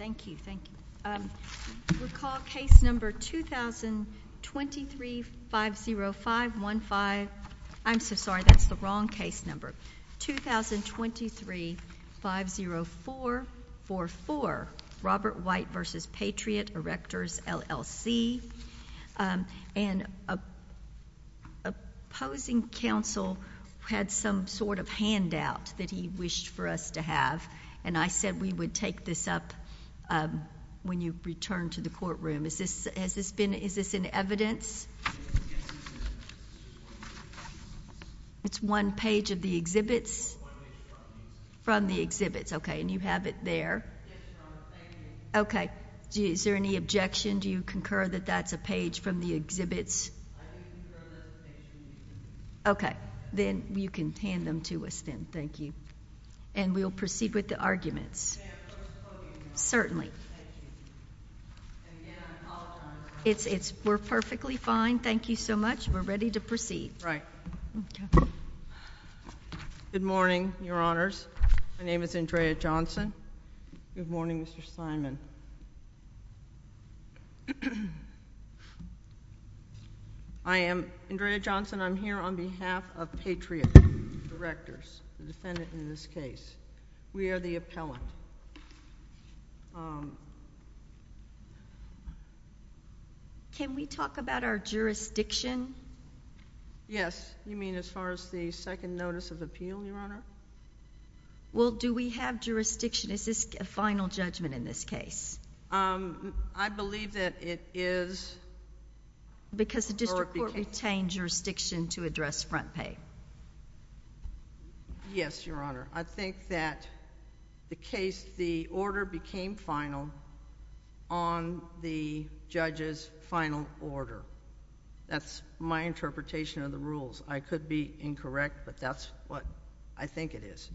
Thank you. Thank you. Recall case number 2023-50515. I'm so sorry, that's the wrong case number. 2023-50444, Robert White v. Patriot Erectors, LLC. An opposing counsel had some sort of when you return to the courtroom. Is this an evidence? It's one page of the exhibits? From the exhibits. Okay. And you have it there? Okay. Is there any objection? Do you concur that that's a page from the exhibits? Okay. Then you can hand them to us then. Thank you. And we'll proceed with the arguments. Certainly. We're perfectly fine. Thank you so much. We're ready to proceed. Right. Good morning, Your Honors. My name is Andrea Johnson. Good morning, Your Honor. And I'm the defendant in this case. We are the appellant. Can we talk about our jurisdiction? Yes. You mean as far as the second notice of appeal, Your Honor? Well, do we have jurisdiction? Is this a final judgment in this case? I believe that it is. Because the district court retained jurisdiction to address front pay. Yes, Your Honor. I think that the case, the order became final on the judge's final order. That's my interpretation of the rules. I could be incorrect, but that's what I think it is.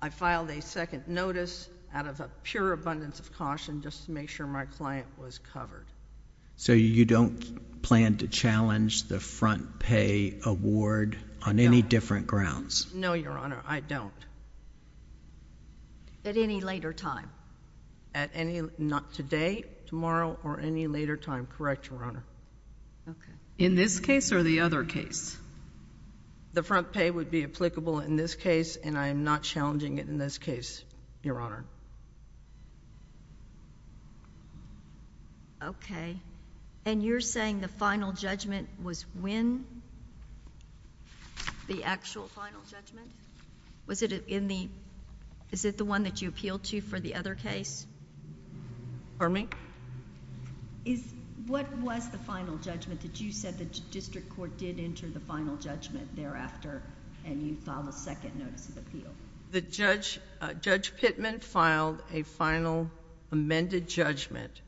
I filed a second notice out of a pure abundance of caution just to make sure my client was covered. So you don't plan to challenge the front pay award on any different grounds? No, Your Honor. I don't. At any later time? Not today, tomorrow, or any later time. Correct, Your Honor. In this case or the other case? The front pay would be applicable in this case, and I am not challenging it in this case, Your Honor. Okay. And you're saying the final judgment was when the actual final judgment? Is it the one that you appealed to for the other case? Pardon me? What was the final judgment that you said the district court did enter the final judgment thereafter and you filed a second notice of appeal? Judge Pittman filed a final amended judgment,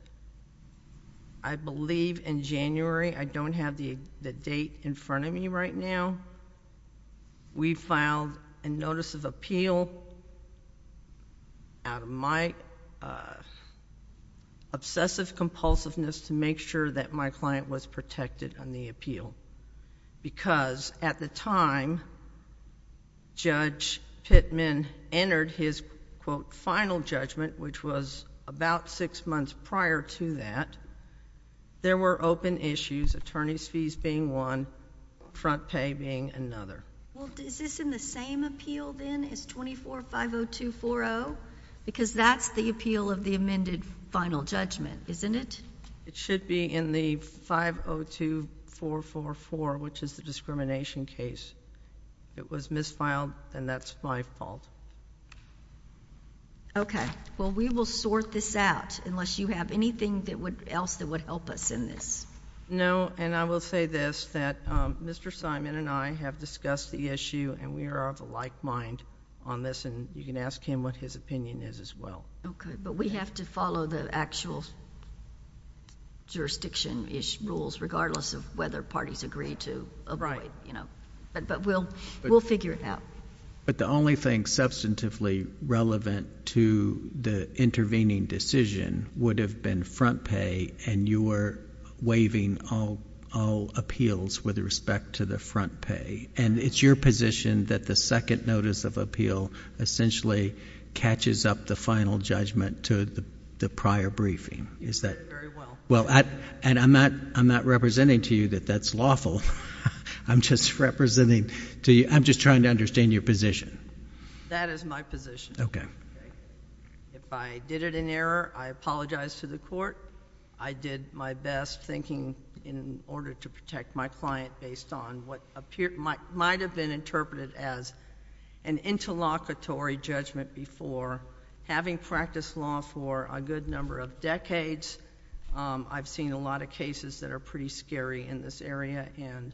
I believe in January. I don't have the date in front of me right now. We filed a notice of appeal out of my obsessive compulsiveness to make sure that my client was protected on the appeal, because at the time Judge Pittman entered his, quote, final judgment, which was about six months prior to that, there were open issues, attorney's fees being one, front pay being another. Well, is this in the same appeal, then, as 24-502-40? Because that's the appeal of the amended final judgment, isn't it? It should be in the 502-444, which is the discrimination case. It was misfiled, and that's my fault. Okay. Well, we will sort this out, unless you have anything else that would help us in this. No, and I will say this, that Mr. Simon and I have discussed the issue, and we are of a like mind on this, and you can ask him what his opinion is, as well. Okay, but we have to follow the actual jurisdiction-ish rules, regardless of whether parties agree to avoid, you know. But we'll figure it out. But the only thing substantively relevant to the intervening decision would have been front pay, and you were waiving all appeals with respect to the front pay. And it's your position that the second notice of appeal essentially catches up the final judgment to the prior briefing. Is that... Very well. Well, and I'm not representing to you that that's lawful. I'm just representing to you... I'm just trying to understand your position. That is my position. Okay. If I did it in error, I apologize to the court. I did my best thinking in order to protect my client, based on what might have been interpreted as an interlocutory judgment before. Having practiced law for a good number of decades, I've seen a lot of cases that are pretty scary in this area, and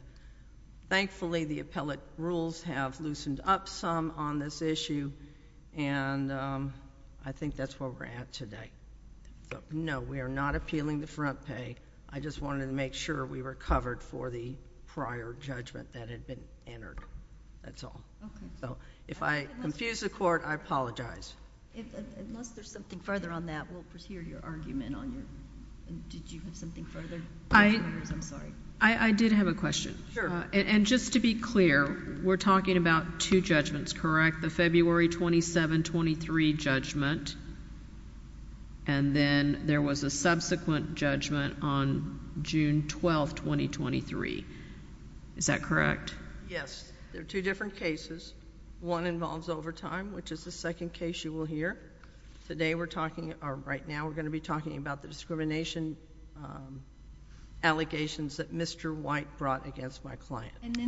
thankfully, the appellate rules have loosened up some on this issue, and I think that's where we're at today. But, no, we are not appealing the front pay. I just wanted to make sure we were covered for the prior judgment that had been entered. That's all. Okay. So if I confuse the court, I apologize. Unless there's something further on that, we'll pursue your argument on your... Did you have something further? I did have a question. Sure. And just to be clear, we're talking about two judgments, correct? The February 27-23 judgment, and then there was a subsequent judgment on June 12, 2023. Is that correct? Yes. There are two different cases. One involves overtime, which is the second case you will hear. Today, we're talking... or right now, we're going to be talking about the discrimination allegations that... And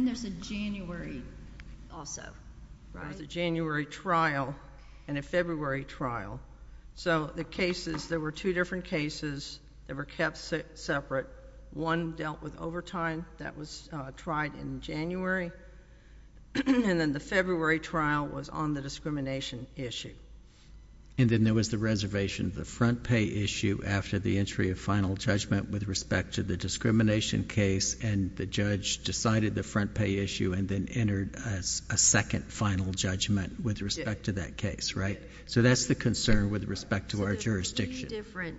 there's a January also, right? There's a January trial and a February trial. So the cases, there were two different cases that were kept separate. One dealt with overtime. That was tried in January, and then the February trial was on the discrimination issue. And then there was the reservation of the front pay issue after the entry of final judgment with respect to the discrimination case, and the judge decided the front pay issue and then entered a second final judgment with respect to that case, right? So that's the concern with respect to our jurisdiction. So there were three different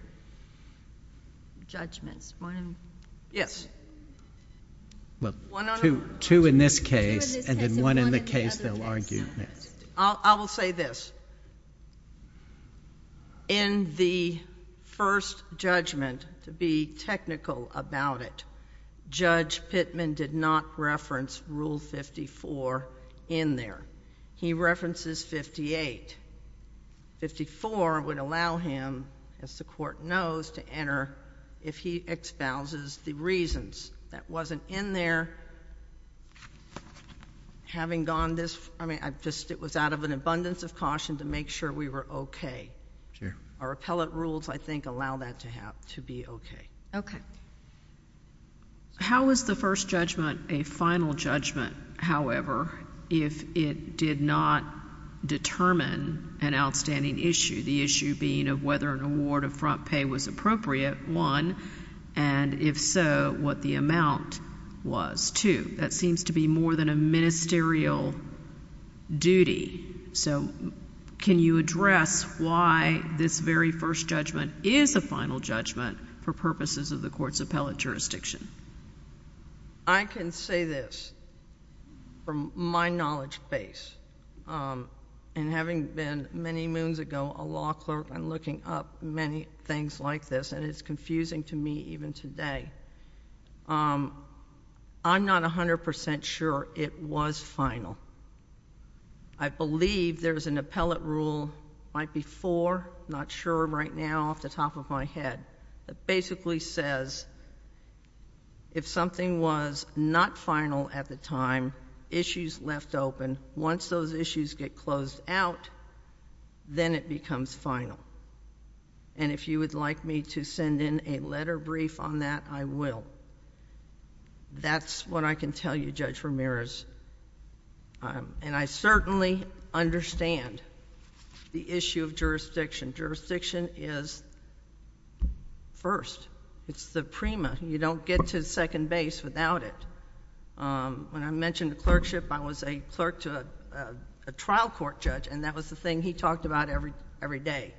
judgments. One... Yes. Well, two in this case, and then one in the case they'll argue. I will say this. In the first judgment, to be technical about it, Judge Pittman did not reference Rule 54 in there. He references 58. 54 would allow him, as the Court knows, to enter if he exposes the reasons. That wasn't in there. Having gone this... I mean, it was out of an abundance of caution to make sure we were okay. Sure. Our appellate rules, I think, allow that to be okay. Okay. How is the first judgment a final judgment, however, if it did not determine an outstanding issue, the issue being of whether an award of front pay was appropriate, one, and if so, what the amount was, two? That seems to be more than a ministerial duty. So can you address why this very first judgment is a final judgment for purposes of the Court's appellate jurisdiction? I can say this from my knowledge base, and having been many moons ago a law clerk and looking up many things like this, and it's been a long time, I can say that it was final. I believe there's an appellate rule, might be four, I'm not sure right now off the top of my head, that basically says if something was not final at the time, issues left open, once those issues get closed out, then it becomes final. And if you would like me to send in a letter brief on that, I will. That's what I can tell you, Judge Ramirez. And I certainly understand the issue of jurisdiction. Jurisdiction is first. It's the prima. You don't get to the second base without it. When I mentioned clerkship, I was a clerk to a trial court judge, and that was the thing he talked about every day.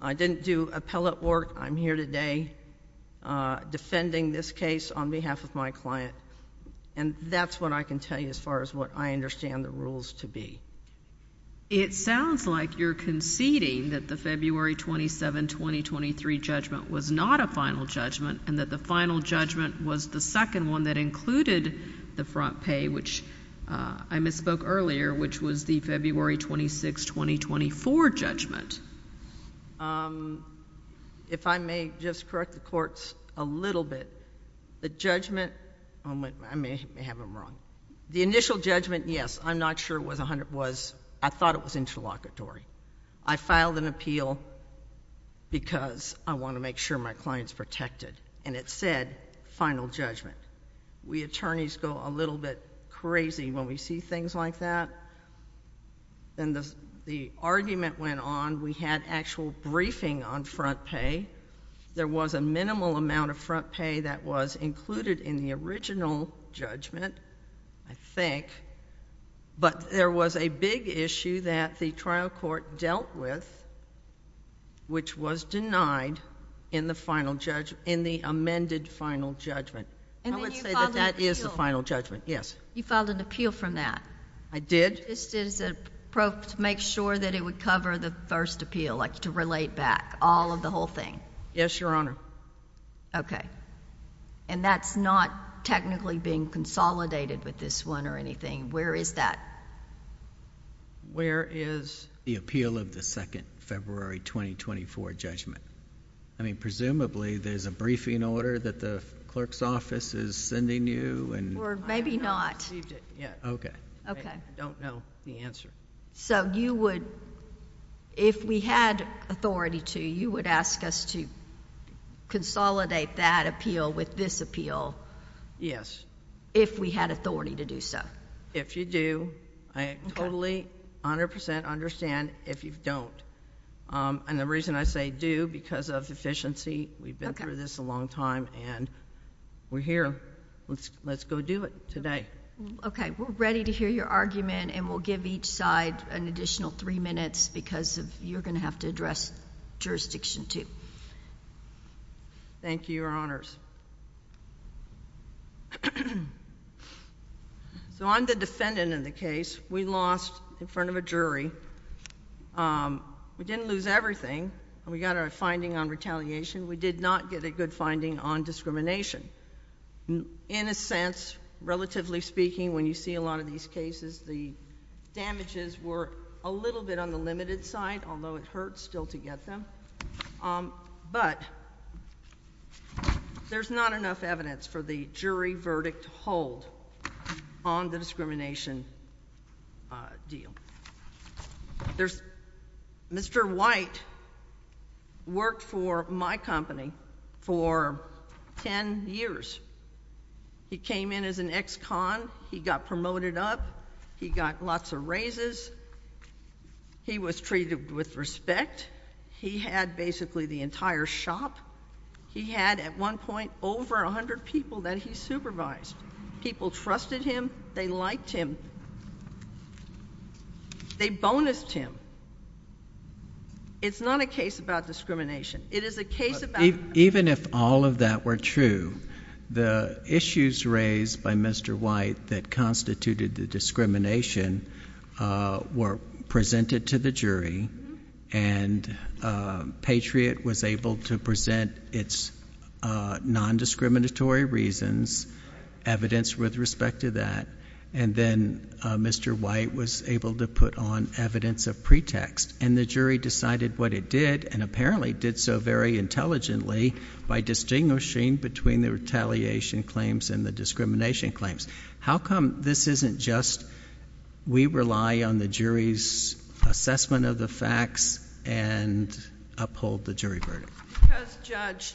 I didn't do appellate work. I'm here today defending this case on behalf of my client, and that's what I can tell you as far as what I understand the rules to be. It sounds like you're conceding that the February 27, 2023 judgment was not a final judgment and that the final judgment was the second one that included the front pay, which I misspoke earlier, which was the February 26, 2024 judgment. If I may just correct the judgment—I may have them wrong. The initial judgment, yes, I'm not sure it was—I thought it was interlocutory. I filed an appeal because I want to make sure my client's protected, and it said final judgment. We attorneys go a little bit crazy when we see things like that, and the argument went on. We had actual briefing on front pay. There was a minimal amount of front pay that was included in the original judgment, I think, but there was a big issue that the trial court dealt with, which was denied in the amended final judgment. I would say that that is the final judgment, yes. You filed an appeal from that? I did. Just to make sure that it would cover the first appeal, like to relate back all of the whole thing? Yes, Your Honor. Okay. And that's not technically being consolidated with this one or anything? Where is that? Where is the appeal of the second February 2024 judgment? I mean, presumably there's a briefing order that the clerk's office is sending you and— Or maybe not. I have not received it yet. Okay. Okay. I don't know the answer. So you would—if we had authority to, you would ask us to consolidate that appeal with this appeal— Yes. —if we had authority to do so? If you do, I totally, 100 percent understand if you don't. And the reason I say do, because of efficiency. We've been through this a long time, and we're here. Let's go do it today. Okay. We're ready to hear your argument, and we'll give each side an additional three minutes because you're going to have to address jurisdiction two. Thank you, Your Honors. So I'm the defendant in the case. We lost in front of a jury. We didn't lose everything. We got our finding on retaliation. We did not get a good finding on discrimination. In a sense, relatively speaking, when you see a lot of these cases, the damages were a little bit on the limited side, although it hurts still to get them. But there's not enough evidence for the jury verdict to hold on the discrimination deal. Mr. White worked for my company for 10 years. He came in as an ex-con. He got promoted up. He got lots of raises. He was treated with respect. He had basically the entire shop. He had, at one point, over 100 people that he supervised. People trusted him. They liked him. They bonused him. It's not a case about discrimination. It is a case about discrimination. Even if all of that were true, the issues raised by Mr. White that constituted the discrimination were presented to the jury, and Patriot was able to present its nondiscriminatory reasons, evidence with respect to that. Then Mr. White was able to put on evidence of pretext, and the jury decided what it did, and apparently did so very intelligently by distinguishing between the retaliation claims and the discrimination claims. How come this isn't just we rely on the jury's assessment of the facts and uphold the jury verdict? Because, Judge,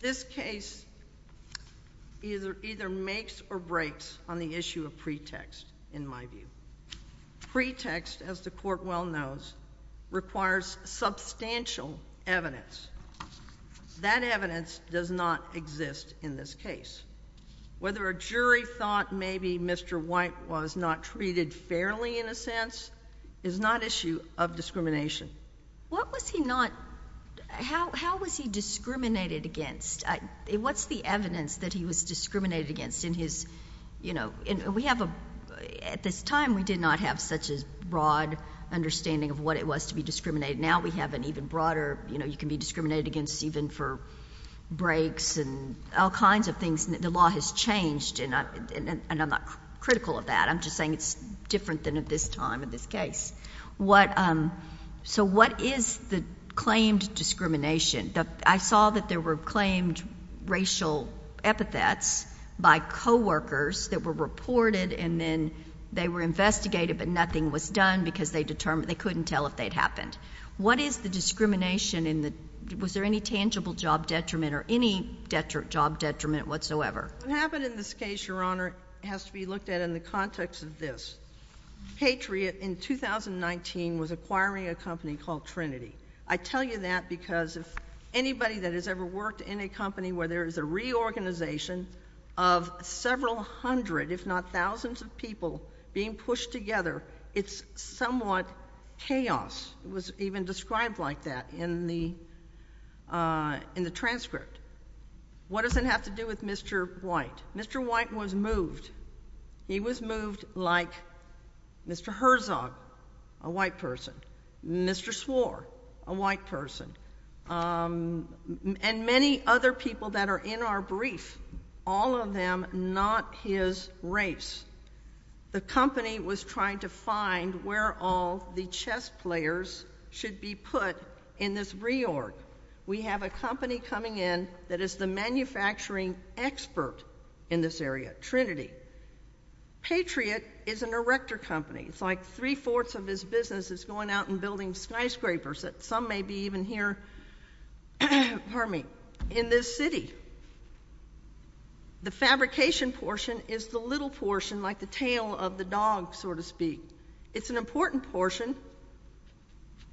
this case either makes or breaks on the issue of pretext, in my view. Pretext, as the Court well knows, requires substantial evidence. That evidence does not exist in this case. Whether a jury thought maybe Mr. White was not treated fairly, in a sense, is not issue of discrimination. What was he not... How was he discriminated against? What's the evidence that he was discriminated against in his... At this time, we did not have such a broad understanding of what it was to be discriminated. Now, we have an even broader... You can be discriminated against even for breaks and all kinds of things. The law has changed, and I'm not critical of that. I'm just saying it's different than at this time in this case. What is the claimed discrimination? I saw that there were claimed racial epithets by co-workers that were reported, and then they were investigated, but nothing was done because they determined... They couldn't tell if they'd happened. What is the discrimination in the... Was there any tangible job detriment or any job detriment whatsoever? What happened in this case, Your Honor, has to be looked at in the context of this. Patriot, in 2019, was acquiring a company called Trinity. I tell you that because if anybody that has ever worked in a company where there is a reorganization of several hundred, if not thousands of people being pushed together, it's somewhat chaos. It was even described like that in the transcript. What does it have to do with Mr. White? Mr. White was moved. He was moved like Mr. Herzog, a white person, Mr. Swore, a white person, and many other people that are in our brief, all of them not his race. The company was trying to find where all the chess players should be put in this reorg. We have a company coming in that is the manufacturing expert in this area, Trinity. Patriot is an erector company. It's like three-fourths of his business is going out and building skyscrapers that some may be even here in this city. The fabrication portion is the little portion, like the tail of the dog, so to speak. It's an important portion,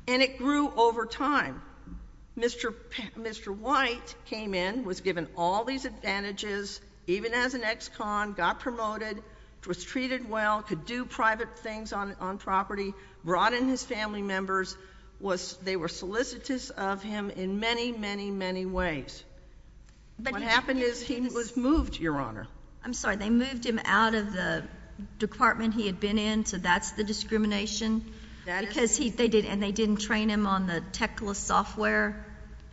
and it grew over time. Mr. White came in, was given all these advantages, even as an ex-con, got promoted, was treated well, could do private things on property, brought in his family members. They were solicitous of him in many, many, many ways. What happened is he was moved, Your Honor. I'm sorry. They moved him out of the department he had been in, so that's the discrimination? Because they didn't train him on the Tecla software,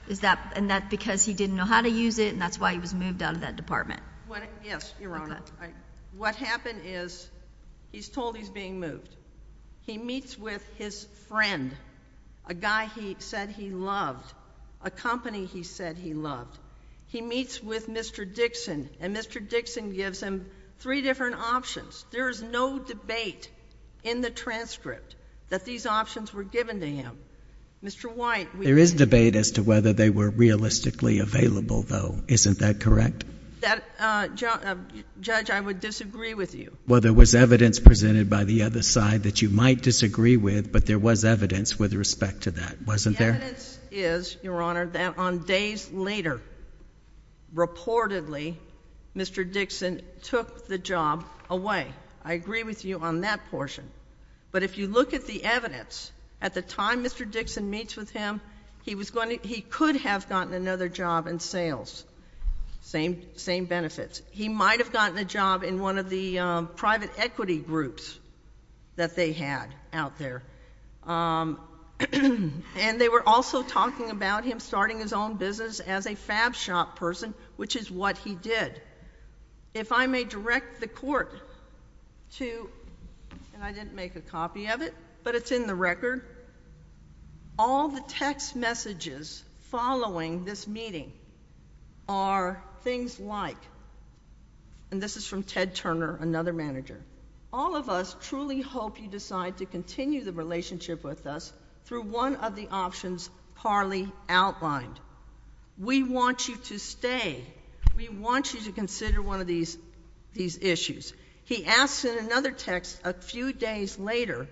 and that's because he didn't know how to use it, and that's why he was moved out of that department? Yes, Your Honor. What happened is he's told he's being moved. He meets with his friend, a guy he said he loved, a company he said he loved. He meets with Mr. Dixon, and Mr. Dixon gives him three different options. There is no debate in the transcript that these options were given to him. Mr. White, we... There is debate as to whether they were realistically available, though. Isn't that correct? Judge, I would disagree with you. Well, there was evidence presented by the other side that you might disagree with, but there was evidence with respect to that, wasn't there? The evidence is, Your Honor, that on days later, reportedly, Mr. Dixon took the job away. I agree with you on that portion, but if you look at the evidence, at the time Mr. Dixon meets with him, he could have gotten another job in sales. Same benefits. He might have gotten a job in one of the private equity groups that they had out there, and they were also talking about him starting his own business as a fab shop person, which is what he did. If I may direct the Court to, and I didn't make a copy of it, but it's in the record, all the text messages following this meeting are things like, and this is from Ted Turner, another manager, all of us truly hope you decide to continue the relationship with us through one of the options Parley outlined. We want you to stay. We want you to consider one of these issues. He asks in another text a few days later,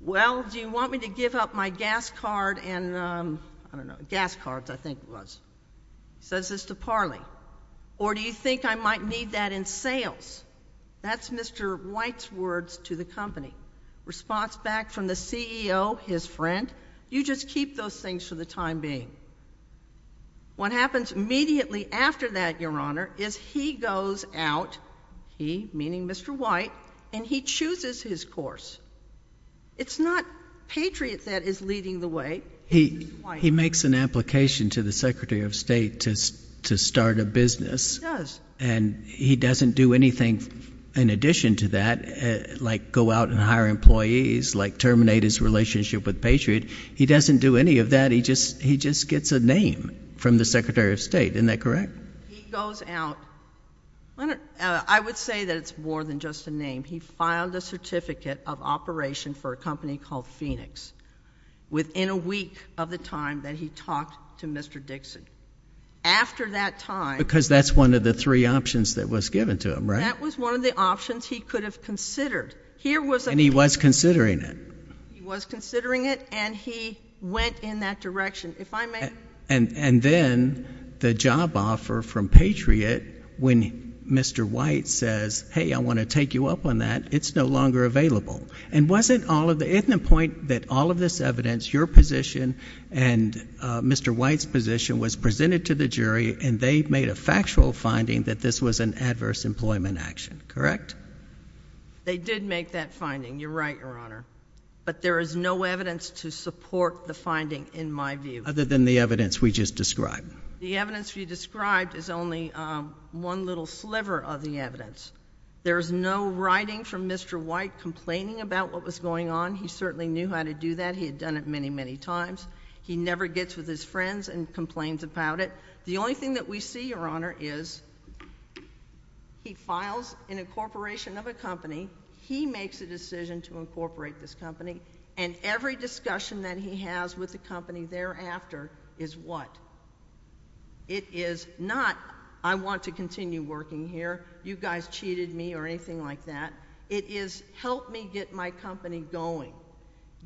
well, do you want me to give up my gas card and, I don't know, gas cards, I think it was, says this to Parley, or do you think I might need that in sales? That's Mr. White's words to the company. Response back from the CEO, his friend. You just keep those things for the time being. What happens immediately after that, Your Honor, is he goes out, he meaning Mr. White, and he chooses his course. It's not Patriot that is leading the way, it's Mr. White. He makes an application to the Secretary of State to start a business, and he doesn't do anything in addition to that, like go out and hire employees, like terminate his relationship with Patriot. He doesn't do any of that. He just gets a name from the Secretary of State. Isn't that correct? He goes out. I would say that it's more than just a name. He filed a certificate of operation for a company called Phoenix within a week of the time that he talked to Mr. Dixon. After that time, because that's one of the three options that was given to him, right? That was one of the options he could have considered. And he was considering it. He was considering it, and he went in that direction. And then the job offer from Patriot, when Mr. White says, hey, I want to take you up on that, it's no longer available. And wasn't all of the, isn't the point that all of this evidence, your position and Mr. White's position was presented to the jury, and they made a factual finding that this was an adverse employment action, correct? They did make that finding. You're right, Your Honor. But there is no evidence to support the finding in my view. Other than the evidence we just described. The evidence we described is only one little sliver of the evidence. There is no writing from Mr. White complaining about what was going on. He certainly knew how to do that. He had done it many, many times. He never gets with his friends and complains about it. The only thing that we see, Your Honor, is he files an incorporation of a company. He makes a decision to incorporate this company. And every discussion that he has with the company thereafter is what? It is not, I want to continue working here. You guys cheated me or anything like that. It is, help me get my company going.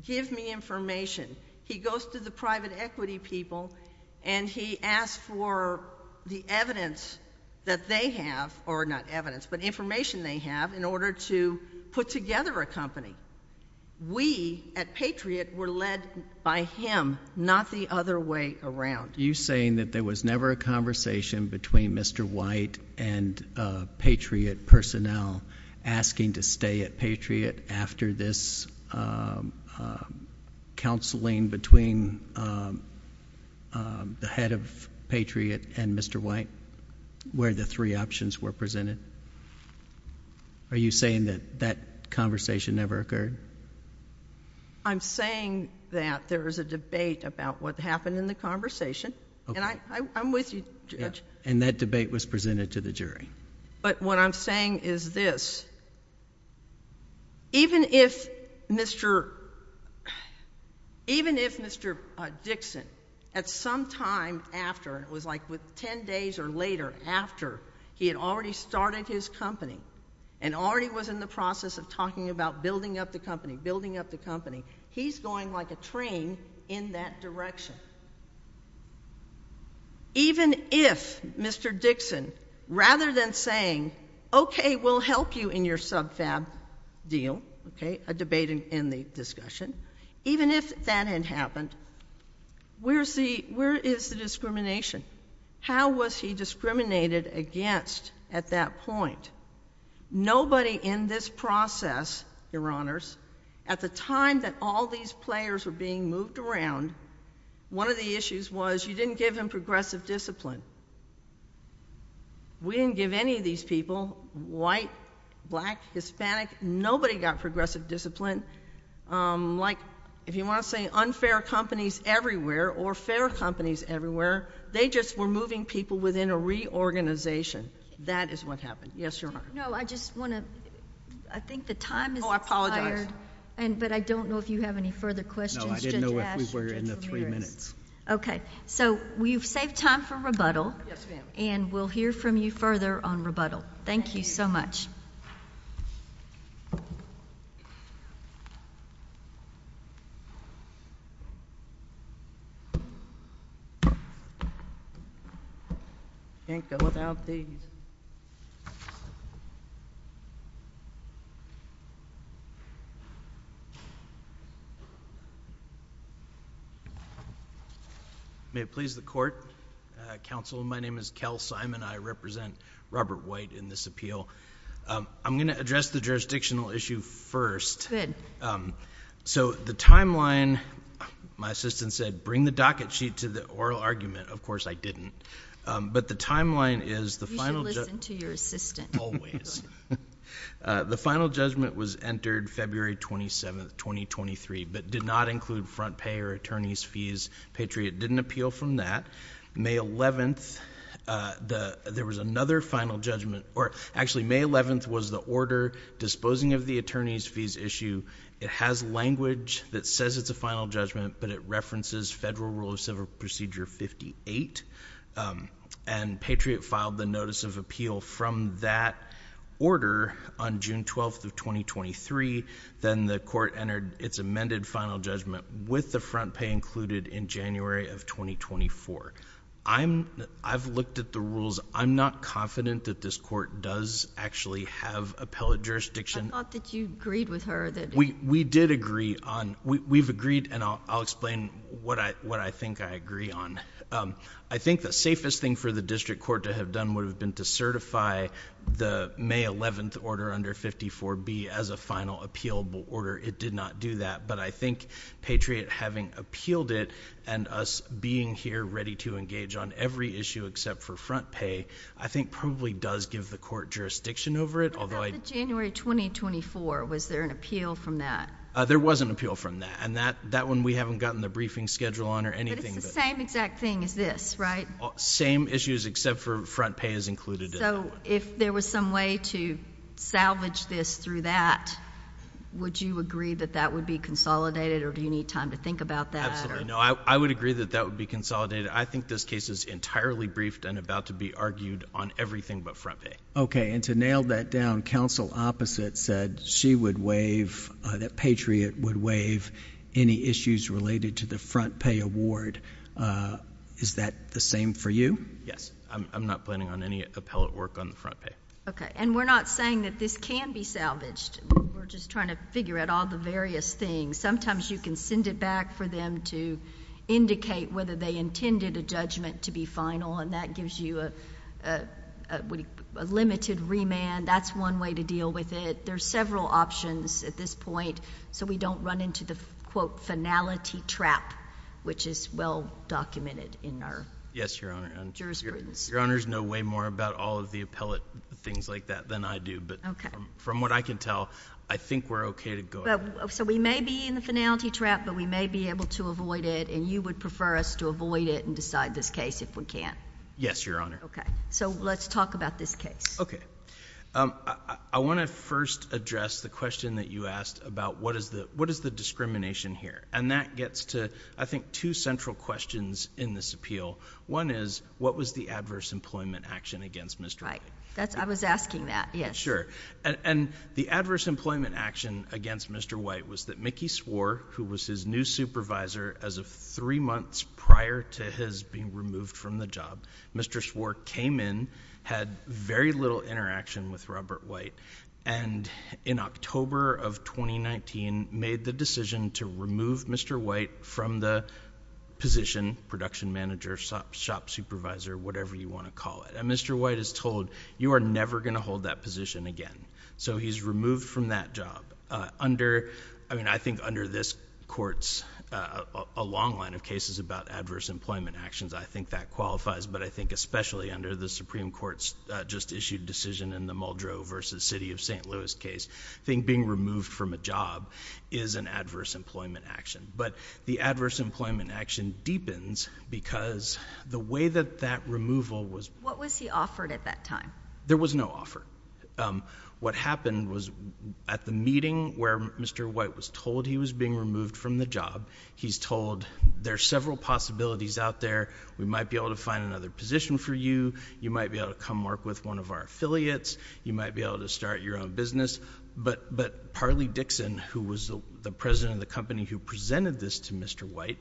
Give me information. He goes to the private equity people, and he asks for the evidence that they have, or not evidence, but information they have, in order to put together a company. We, at Patriot, were led by him, not the other way around. You're saying that there was never a conversation between Mr. White and Patriot personnel asking to stay at Patriot after this counseling between the head of Patriot and Mr. White, where the three options were presented? Are you saying that that conversation never occurred? I'm saying that there is a debate about what happened in the conversation, and I'm with you, Judge. And that debate was presented to the jury. But what I'm saying is this. Even if Mr. Dixon, at some time after, it was like 10 days or later after he had already started his company, and already was in the process of talking about building up the company, building up the company, he's going like a train in that saying, okay, we'll help you in your subfab deal, okay, a debate in the discussion. Even if that had happened, where is the discrimination? How was he discriminated against at that point? Nobody in this process, your honors, at the time that all these players were being moved around, one of the issues was you didn't give him progressive discipline. We didn't give any of these people, white, black, Hispanic, nobody got progressive discipline. Like, if you want to say unfair companies everywhere, or fair companies everywhere, they just were moving people within a reorganization. That is what happened. Yes, your honor. No, I just want to, I think the time is expired, but I don't know if you have any further questions, No, I didn't know if we were in the three minutes. Okay, so we've saved time for rebuttal, and we'll hear from you further on rebuttal. Thank you so much. Can't go without these. May it please the court. Counsel, my name is Kel Simon. I represent Robert White in this appeal. I'm going to address the jurisdictional issue first. Good. So, the timeline, my assistant said, bring the docket sheet to the oral argument. Of course, I didn't. But the timeline is the final You should listen to your assistant. Always. The final judgment was entered February 27th, 2023, but did not include front pay or attorney's fees. Patriot didn't appeal from that. May 11th, there was another final judgment, or actually, May 11th was the order disposing of the attorney's fees issue. It has language that says it's a final judgment, but it references Federal Rule of Civil Procedure 58, and Patriot filed the notice of appeal from that order on June 12th of 2023. Then the court entered its amended final judgment with the front pay included in January of 2024. I've looked at the rules. I'm not confident that this court does actually have appellate jurisdiction. I thought that you agreed with her. We did agree. We've agreed, and I'll explain what I think I agree on. I think the safest thing for the district court to have done would have been to certify the May 11th order under 54B as a final appealable order. It did not do that, but I think Patriot having appealed it and us being here ready to engage on every issue except for front pay, I think probably does give the court jurisdiction over it. What about the January 2024? Was there an appeal from that? There was an appeal from that, and that one we haven't gotten the briefing schedule on or anything. But it's the same exact thing as this, right? Same issues except for front pay is included in that one. So if there was some way to salvage this through that, would you agree that that would be consolidated or do you need time to think about that? Absolutely. No, I would agree that that would be consolidated. I think this case is entirely briefed and about to be argued on everything but front pay. Okay. And to nail that down, counsel opposite said she would waive, that Patriot would waive any issues related to the front pay award. Is that the same for you? Yes. I'm not planning on any appellate work on the front pay. Okay. And we're not saying that this can be salvaged. We're just trying to figure out all the various things. Sometimes you can send it back for them to indicate whether they intended a judgment to be final, and that gives you a limited remand. That's one way to deal with it. There are several options at this point, so we don't run into the, quote, finality trap, which is well documented in our jurisprudence. Yes, Your Honor. Your Honors know way more about all of the appellate things like that than I do. Okay. But from what I can tell, I think we're okay to go ahead. So we may be in the finality trap, but we may be able to avoid it, and you would prefer us to avoid it and decide this case if we can't? Yes, Your Honor. Okay. So let's talk about this case. Okay. I want to first address the question that you asked about what is the discrimination here, and that gets to, I think, two central questions in this appeal. One is, what was the adverse employment action against Mr. White? I was asking that, yes. Sure. And the adverse employment action against Mr. White was that Mickey Swore, who was his new supervisor as of three months prior to his being removed from the job, Mr. Swore came in, had very little interaction with Robert White, and in October of 2019, made the decision to remove Mr. White from the position, production manager, shop supervisor, whatever you want to call it. And Mr. White is told, you are never going to hold that a long line of cases about adverse employment actions. I think that qualifies, but I think especially under the Supreme Court's just-issued decision in the Muldrow v. City of St. Louis case, I think being removed from a job is an adverse employment action. But the adverse employment action deepens because the way that that removal was— What was he offered at that time? There was no offer. What happened was, at the meeting where Mr. White was told he was being removed from the job, he's told, there are several possibilities out there. We might be able to find another position for you. You might be able to come work with one of our affiliates. You might be able to start your own business. But Parley Dixon, who was the president of the company who presented this to Mr. White,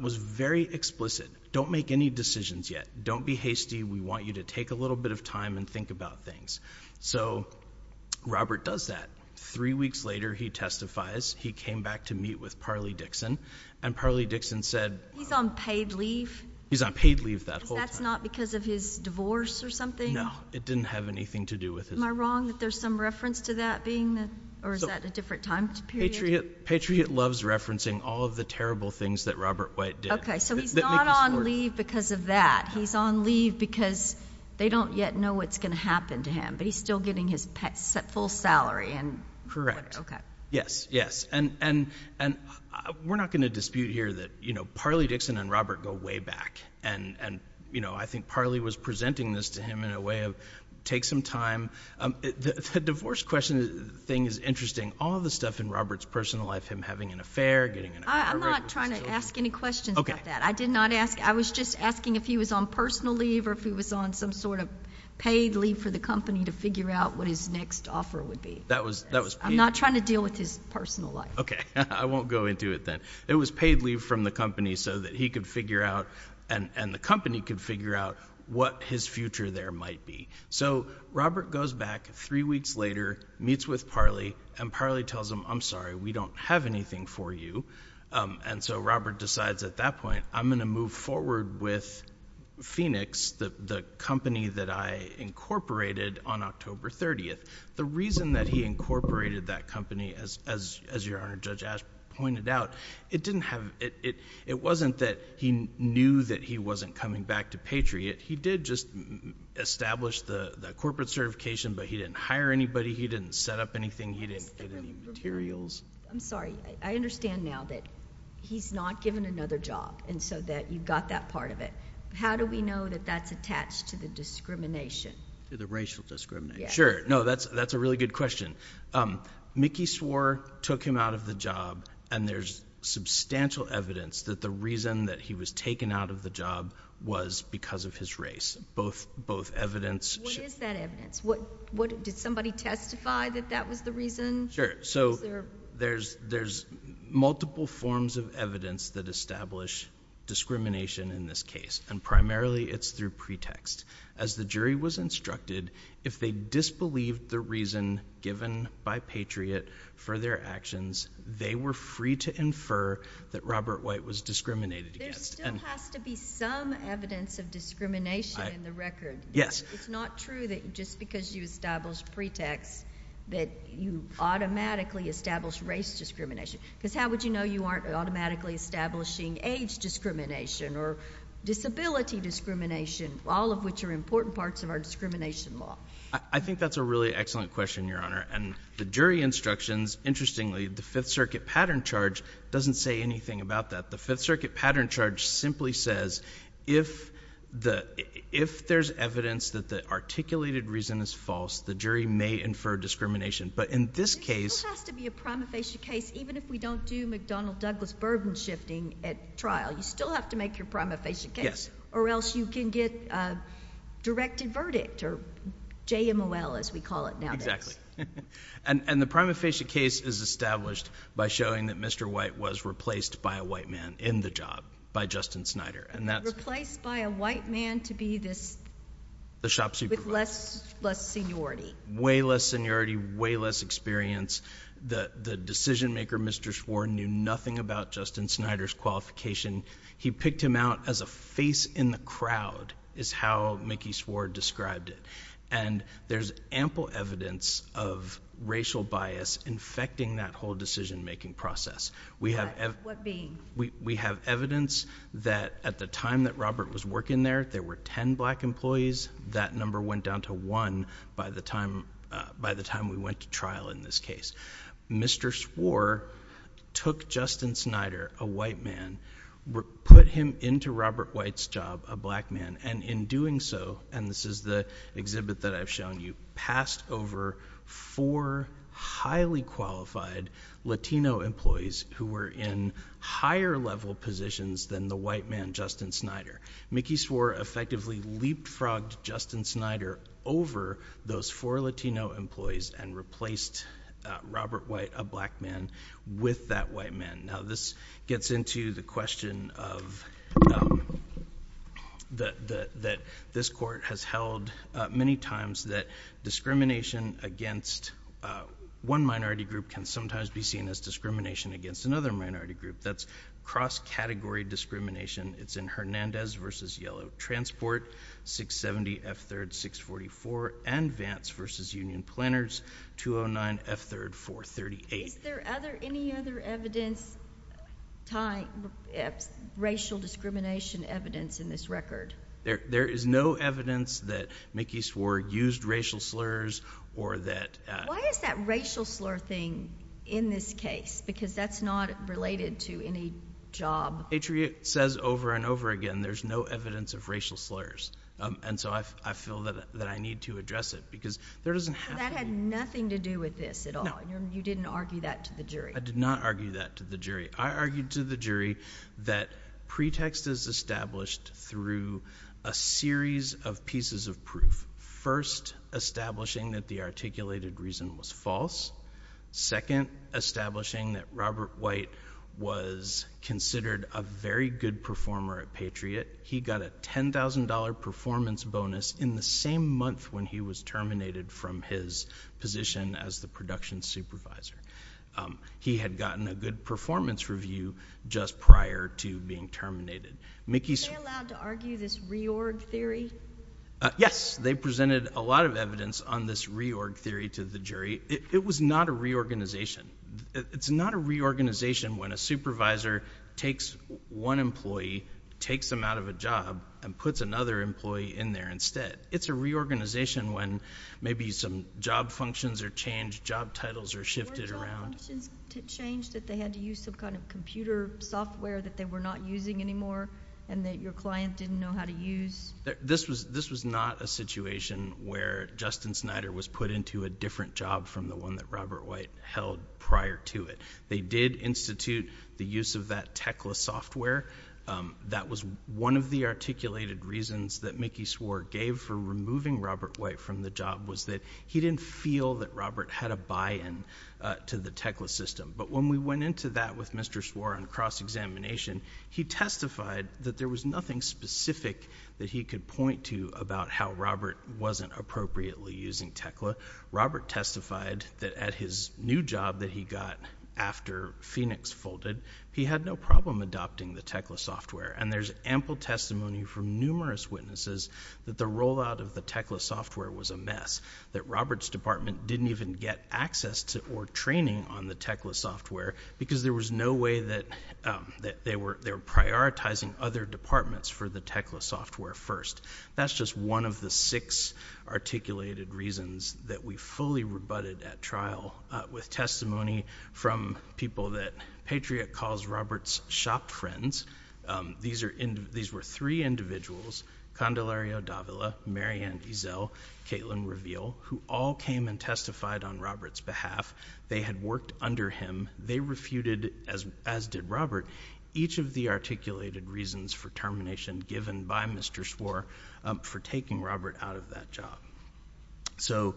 was very explicit. Don't make any decisions yet. Don't be hasty. We want you to take a little bit of time and he came back to meet with Parley Dixon, and Parley Dixon said— He's on paid leave? He's on paid leave that whole time. But that's not because of his divorce or something? No. It didn't have anything to do with his— Am I wrong that there's some reference to that being—or is that a different time period? Patriot loves referencing all of the terrible things that Robert White did. Okay. So he's not on leave because of that. He's on leave because they don't yet know what's going to happen to him, but he's still getting his full salary and— Correct. Yes, yes. And we're not going to dispute here that Parley Dixon and Robert go way back. And I think Parley was presenting this to him in a way of, take some time. The divorce question thing is interesting. All of the stuff in Robert's personal life, him having an affair, getting an— I'm not trying to ask any questions about that. I did not ask—I was just asking if he was on personal leave or if he was on some sort of paid leave for the company to figure out what his next offer would be. I'm not trying to deal with his personal life. Okay. I won't go into it then. It was paid leave from the company so that he could figure out and the company could figure out what his future there might be. So Robert goes back three weeks later, meets with Parley, and Parley tells him, I'm sorry, we don't have anything for you. And so Robert decides at that point, I'm going to move forward with Phoenix, the company that I incorporated on October 30th. The reason that he incorporated that company, as Your Honor, Judge Ashby pointed out, it didn't have—it wasn't that he knew that he wasn't coming back to Patriot. He did just establish the corporate certification, but he didn't hire anybody. He didn't set up anything. He didn't get any materials. I'm sorry. I understand now that he's not given another job and so that you've got that part of it. How do we know that that's attached to the discrimination? To the racial discrimination. Yes. Sure. No, that's a really good question. Mickey swore took him out of the job and there's substantial evidence that the reason that he was taken out of the job was because of his race. Both evidence— What is that evidence? Did somebody testify that that was the reason? Sure. So there's multiple forms of evidence that establish discrimination in this case, and primarily it's through pretext. As the jury was instructed, if they disbelieved the reason given by Patriot for their actions, they were free to infer that Robert White was discriminated against. There still has to be some evidence of discrimination in the record. Yes. It's not true that just because you establish pretext that you automatically establish race discrimination. Because how would you know you aren't automatically establishing age discrimination or disability discrimination, all of which are important parts of our discrimination law? I think that's a really excellent question, Your Honor. And the jury instructions, interestingly, the Fifth Circuit pattern charge doesn't say anything about that. The Fifth Circuit There's evidence that the articulated reason is false. The jury may infer discrimination. But in this case— There still has to be a prima facie case. Even if we don't do McDonnell-Douglas burden shifting at trial, you still have to make your prima facie case. Yes. Or else you can get a directed verdict, or JMOL, as we call it nowadays. Exactly. And the prima facie case is established by showing that Mr. White was replaced by a white man in the job by Justin Snyder, and that's— Replaced by a white man to be this— The shop supervisor. With less seniority. Way less seniority, way less experience. The decision-maker, Mr. Sward, knew nothing about Justin Snyder's qualification. He picked him out as a face in the crowd, is how Mickey Sward described it. And there's ample evidence of racial bias infecting that whole decision-making process. What? What mean? We have evidence that at the time that Robert was working there, there were ten black employees. That number went down to one by the time we went to trial in this case. Mr. Sward took Justin Snyder, a white man, put him into Robert White's job, a black man, and in doing so— and this is the exhibit that I've shown you— passed over four highly qualified Latino employees who were in higher-level positions than the white man, Justin Snyder. Mickey Sward effectively leapfrogged Justin Snyder over those four Latino employees and replaced Robert White, a black man, with that white man. Now this gets into the question of— that this court has held many times that discrimination against one minority group can sometimes be seen as discrimination against another minority group. That's cross-category discrimination. It's in Hernandez v. Yellow Transport, 670 F. 3rd 644, and Vance v. Union Planners, 209 F. 3rd 438. Is there any other evidence tying racial discrimination evidence in this record? There is no evidence that Mickey Sward used racial slurs or that— Why is that racial slur thing in this case? Because that's not related to any job. Patriot says over and over again there's no evidence of racial slurs, and so I feel that I need to address it because there doesn't have to be. So that had nothing to do with this at all? You didn't argue that to the jury? I did not argue that to the jury. I argued to the jury that pretext is established through a series of pieces of proof. First, establishing that the articulated reason was false. Second, establishing that Robert White was considered a very good performer at Patriot. He got a $10,000 performance bonus in the same month when he was terminated from his position as a production supervisor. He had gotten a good performance review just prior to being terminated. Were they allowed to argue this reorg theory? Yes. They presented a lot of evidence on this reorg theory to the jury. It was not a reorganization. It's not a reorganization when a supervisor takes one employee, takes them out of a job, and puts another employee in there instead. It's a reorganization when maybe some job functions are changed, job titles are shifted around. Were job functions changed that they had to use some kind of computer software that they were not using anymore and that your client didn't know how to use? This was not a situation where Justin Snyder was put into a different job from the one that Robert White held prior to it. They did institute the use of that Tecla software. That was one of the articulated reasons that Mickey Swore gave for removing Robert White from the job was that he didn't feel that Robert had a buy-in to the Tecla system. But when we went into that with Mr. Swore on cross-examination, he testified that there was nothing specific that he could point to about how Robert wasn't appropriately using Tecla. Robert testified that at his new job that he got after Phoenix folded, he had no problem adopting the Tecla software. There's ample testimony from numerous witnesses that the rollout of the Tecla software was a mess, that Robert's department didn't even get access to or training on the Tecla software because there was no way that they were prioritizing other departments for the trial. With testimony from people that Patriot calls Robert's shop friends, these were three individuals, Condelaria Davila, Mary Ann Ezell, Kaitlyn Reveal, who all came and testified on Robert's behalf. They had worked under him. They refuted, as did Robert, each of the articulated reasons for termination given by Mr. Swore for taking Robert out of that job. So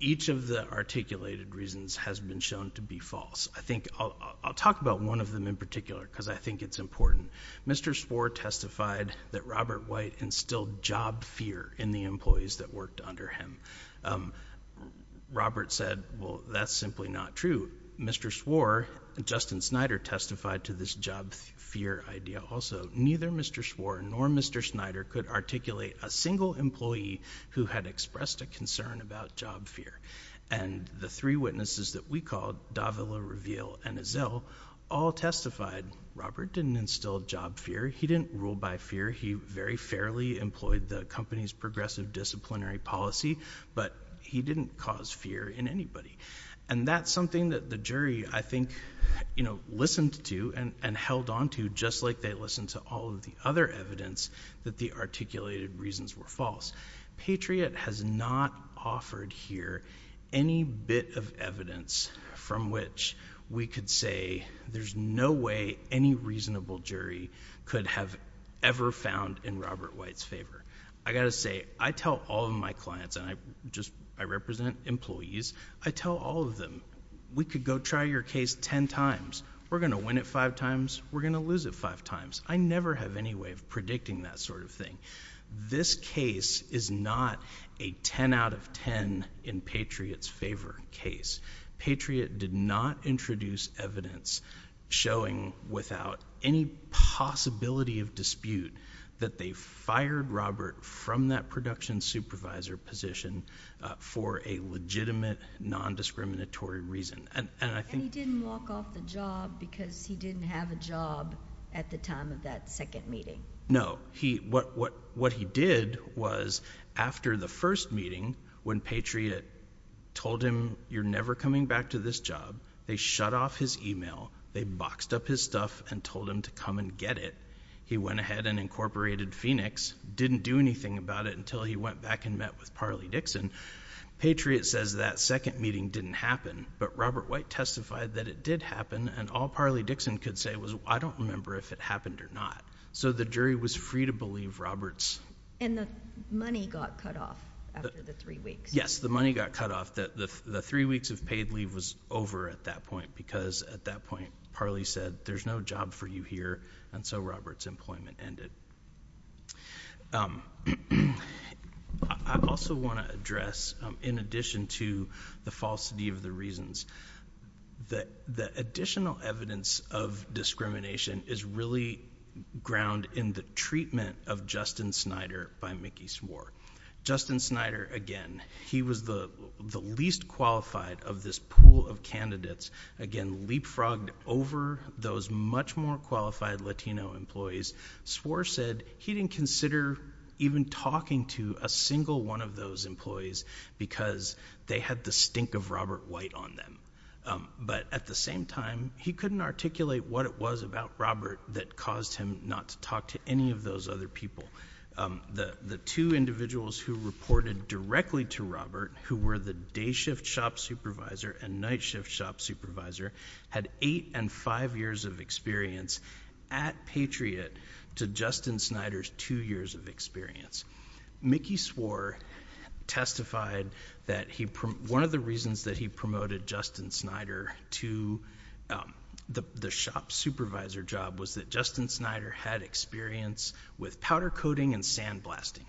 each of the articulated reasons has been shown to be false. I think I'll talk about one of them in particular because I think it's important. Mr. Swore testified that Robert White instilled job fear in the employees that worked under him. Robert said, well, that's simply not true. Mr. Swore, Justin Snyder testified to this job fear idea also. Neither Mr. Swore nor Mr. Snyder could articulate a single employee who had expressed a concern about job fear. And the three witnesses that we called, Davila, Reveal, and Ezell, all testified Robert didn't instill job fear. He didn't rule by fear. He very fairly employed the company's progressive disciplinary policy, but he didn't cause fear in anybody. And that's a theory I think, you know, listened to and held on to just like they listened to all of the other evidence that the articulated reasons were false. Patriot has not offered here any bit of evidence from which we could say there's no way any reasonable jury could have ever found in Robert White's favor. I've got to say, I tell all of my clients, and I represent employees, I tell all of them, we could go try your case ten times. We're going to win it five times. We're going to lose it five times. I never have any way of predicting that sort of thing. This case is not a ten out of ten in Patriot's favor case. Patriot did not introduce evidence showing without any possibility of dispute that they fired Robert from that production supervisor position for a legitimate non-discriminatory reason. And he didn't walk off the job because he didn't have a job at the time of that second meeting. No. What he did was after the first meeting when Patriot told him you're never coming back to this job, they shut off his email, they boxed up his stuff and told him to come and get it, he went ahead and incorporated Phoenix, didn't do anything about it until he went back and met with Parley Dixon. Patriot says that second meeting didn't happen, but Robert White testified that it did happen, and all Parley Dixon could say was I don't remember if it happened or not. So the jury was free to believe Robert's... And the money got cut off after the three weeks. Yes, the money got cut off. The three weeks of paid leave was over at that point because at that point there was no job for you here, and so Robert's employment ended. I also want to address, in addition to the falsity of the reasons, that the additional evidence of discrimination is really ground in the treatment of Justin Snyder by Mickey Swore. Justin Snyder, again, he was the least qualified of this pool of candidates, again, leapfrogged over those much more qualified Latino employees. Swore said he didn't consider even talking to a single one of those employees because they had the stink of Robert White on them. But at the same time, he couldn't articulate what it was about Robert that caused him not to talk to any of those other people. The two individuals who reported directly to Robert, who were the of experience at Patriot, to Justin Snyder's two years of experience. Mickey Swore testified that one of the reasons that he promoted Justin Snyder to the shop supervisor job was that Justin Snyder had experience with powder coating and sandblasting.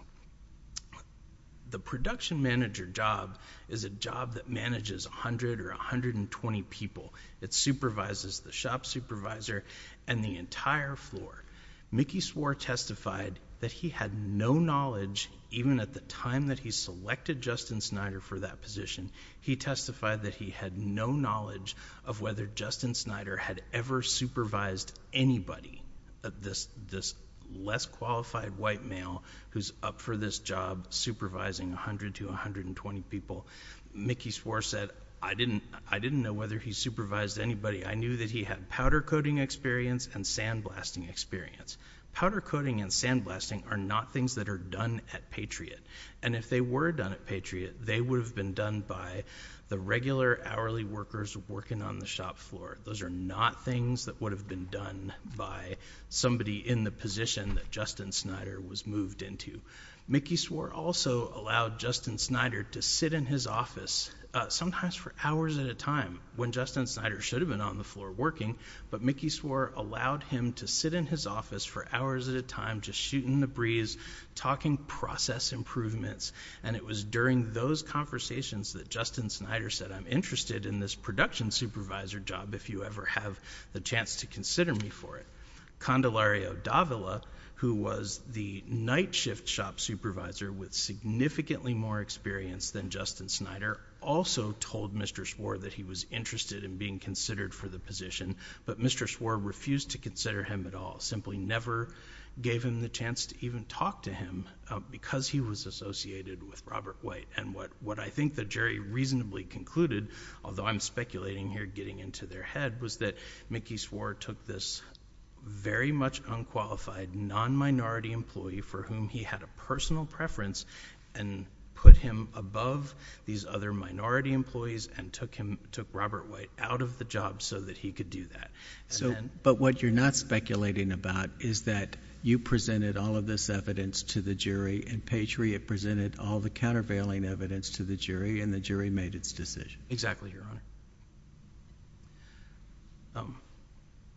The production manager job is a job that manages 100 or 120 people. It supervises the shop supervisor and the entire floor. Mickey Swore testified that he had no knowledge, even at the time that he selected Justin Snyder for that position, he testified that he had no knowledge of whether Justin Snyder had ever supervised anybody, this less qualified white male who's up for this job supervising 100 to 120 people. Mickey Swore said, I didn't know whether he supervised anybody. I knew that he had powder coating experience and sandblasting experience. Powder coating and sandblasting are not things that are done at Patriot. And if they were done at Patriot, they would have been done by the regular hourly workers working on the shop floor. Those are not things that would have been done by somebody in the position that Justin Snyder was moved into. Mickey Swore also allowed Justin Snyder to sit in his office, sometimes for hours at a time, when Justin Snyder should have been on the floor working, but Mickey Swore allowed him to sit in his office for hours at a time, just shooting the breeze, talking process improvements. And it was during those conversations that Justin Snyder said, I'm interested in this production supervisor job if you ever have the chance to consider me for it. Condolario Davila, who was the night shift shop supervisor with significantly more experience than Justin Snyder, also told Mr. Swore that he was interested in being considered for the position, but Mr. Swore refused to consider him at all, simply never gave him the chance to even talk to him because he was associated with Robert White. And what I think the jury reasonably concluded, although I'm speculating here getting into their head, was that Mickey Swore took this very much unqualified non-minority employee for whom he had a personal preference and put him above these other minority employees and took Robert White out of the job so that he could do that. But what you're not speculating about is that you presented all of this evidence to the jury and Patriot presented all the countervailing evidence to the jury and the jury made its decision. Exactly, Your Honor.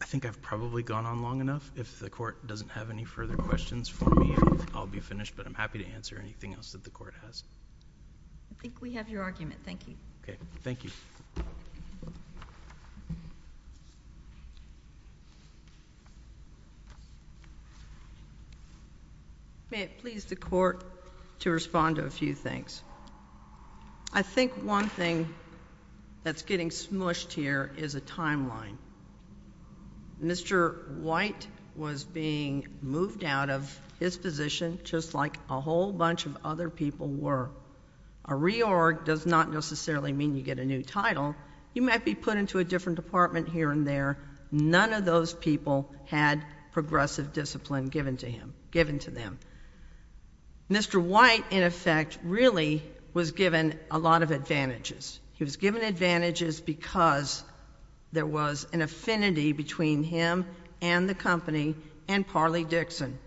I think I've probably gone on long enough. If the court doesn't have any further questions for me, I'll be finished, but I'm happy to answer anything else that the court has. I think we have your argument. Thank you. Okay. Thank you. May it please the court to respond to a few things. I think one thing that's getting smushed here is a timeline. Mr. White was being moved out of his position just like a whole bunch of other people were. A reorg does not necessarily mean you get a new title. You might be put into a different department here and there. None of those people had progressive discipline given to them. Mr. White, in effect, really was given a lot of advantages. He was given advantages because there was an affinity between him and the company and Parley Dixon.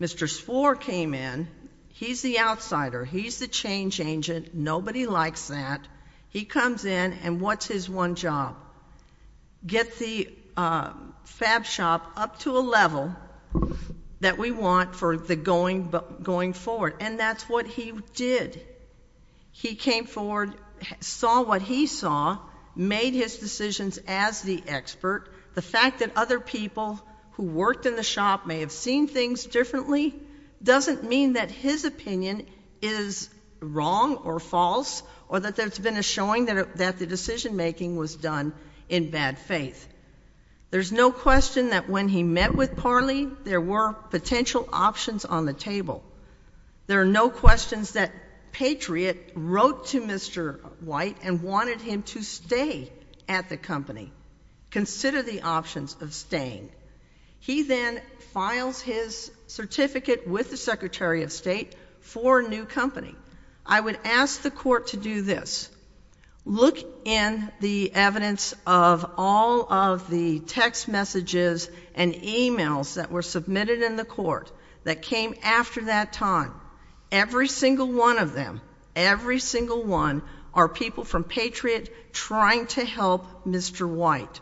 Mr. Spohr came in. He's the outsider. He's the change agent. Nobody likes that. He comes in and what's his one job? Get the fab shop up to a level that we want for the going forward, and that's what he did. He came forward, saw what he saw, made his decisions as the expert. The fact that other people who worked in the shop may have seen things differently doesn't mean that his opinion is wrong or false or that there's been a showing that the decision-making was done in bad faith. There's no question that when he met with Parley, there were potential options on the table. There are no questions that Patriot wrote to Mr. White and wanted him to stay at the company. Consider the options of staying. He then files his certificate with the Secretary of State for a new company. I would ask the court to do this. Look in the evidence of all of the text messages and e-mails that were submitted in the court that came after that time. Every single one of them, every single one, are people from Patriot trying to help Mr. White.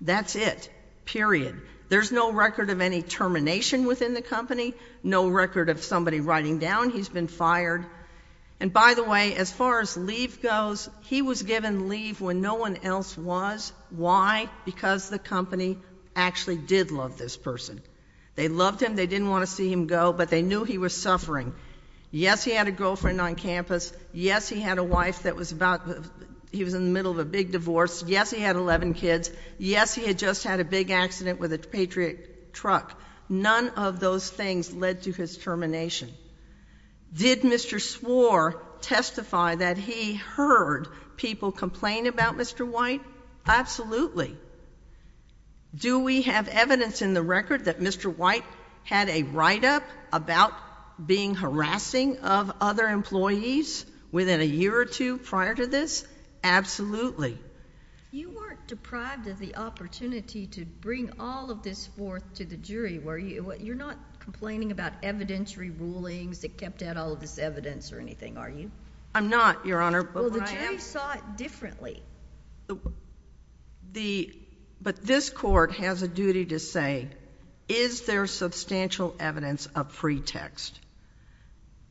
That's it, period. There's no record of any termination within the company, no record of somebody writing down he's been fired. And by the way, as far as leave goes, he was given leave when no one else was. Why? Because the company actually did love this person. They loved him. They didn't want to see him go, but they knew he was suffering. Yes, he had a girlfriend on campus. Yes, he had a wife that was about, he was in the middle of a big divorce. Yes, he had 11 kids. Yes, he had just had a big accident with a Patriot truck. None of those things led to his termination. Did Mr. Swore testify that he heard people complain about Mr. White? Absolutely. Do we have evidence in the record that Mr. White had a write-up about being harassing of other employees within a year or two prior to this? Absolutely. You weren't deprived of the opportunity to bring all of this forth to the jury, were you? You're not complaining about evidentiary rulings that kept out all of this evidence or anything, are you? I'm not, Your Honor. Well, the jury saw it differently. But this court has a duty to say, is there substantial evidence of pretext?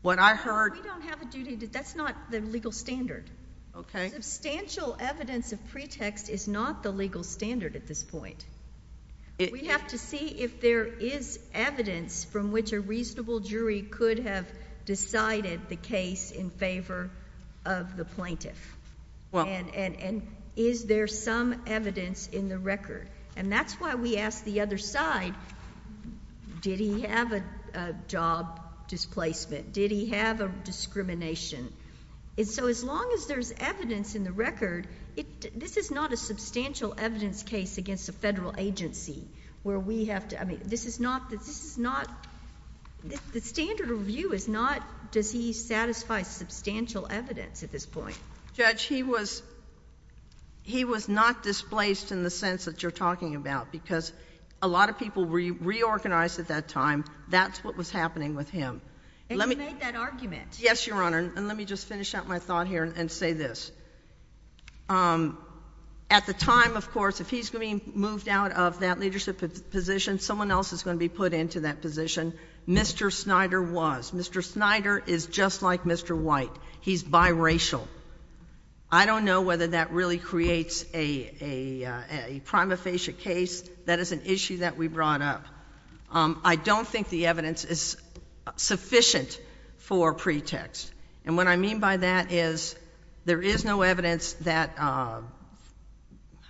We don't have a duty. That's not the legal standard. Okay. Substantial evidence of pretext is not the legal standard at this point. We have to see if there is evidence from which a reasonable jury could have decided the case in favor of the plaintiff and is there some evidence in the record. And that's why we ask the other side, did he have a job displacement? Did he have a discrimination? And so as long as there's evidence in the record, this is not a substantial evidence case against a federal agency where we have to – I mean, this is not – the standard of review is not does he satisfy substantial evidence at this point. Judge, he was not displaced in the sense that you're talking about, because a lot of people were reorganized at that time. That's what was happening with him. And he made that argument. Yes, Your Honor. And let me just finish out my thought here and say this. At the time, of course, if he's going to be moved out of that leadership position, someone else is going to be put into that position. Mr. Snyder was. Mr. Snyder is just like Mr. White. He's biracial. I don't know whether that really creates a prima facie case. That is an issue that we brought up. I don't think the evidence is sufficient for pretext. And what I mean by that is there is no evidence that – I'm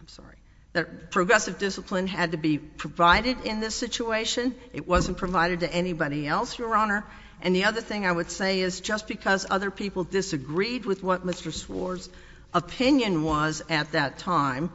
sorry – that progressive discipline had to be provided in this situation. It wasn't provided to anybody else, Your Honor. And the other thing I would say is just because other people disagreed with what Mr. Swore's opinion was at that time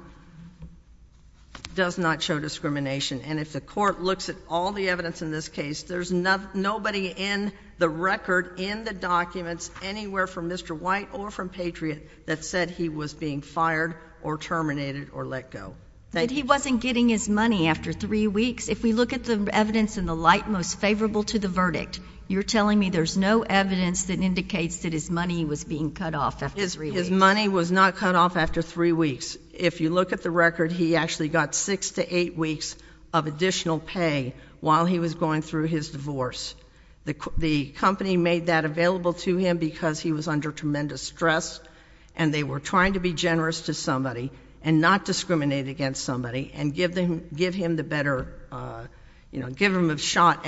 does not show discrimination. And if the court looks at all the evidence in this case, there's nobody in the record, in the documents, anywhere from Mr. White or from Patriot that said he was being fired or terminated or let go. But he wasn't getting his money after three weeks. If we look at the evidence in the light most favorable to the verdict, you're telling me there's no evidence that indicates that his money was being cut off after three weeks. His money was not cut off after three weeks. If you look at the record, he actually got six to eight weeks of additional pay while he was going through his divorce. The company made that available to him because he was under tremendous stress, and they were trying to be generous to somebody and not discriminate against somebody and give him the better, you know, give him a shot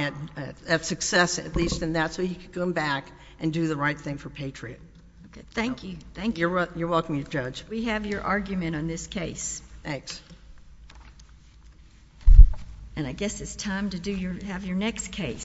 at success at least in that, so he could come back and do the right thing for Patriot. Thank you. Thank you. You're welcome, Judge. We have your argument on this case. Thanks. And I guess it's time to have your next case.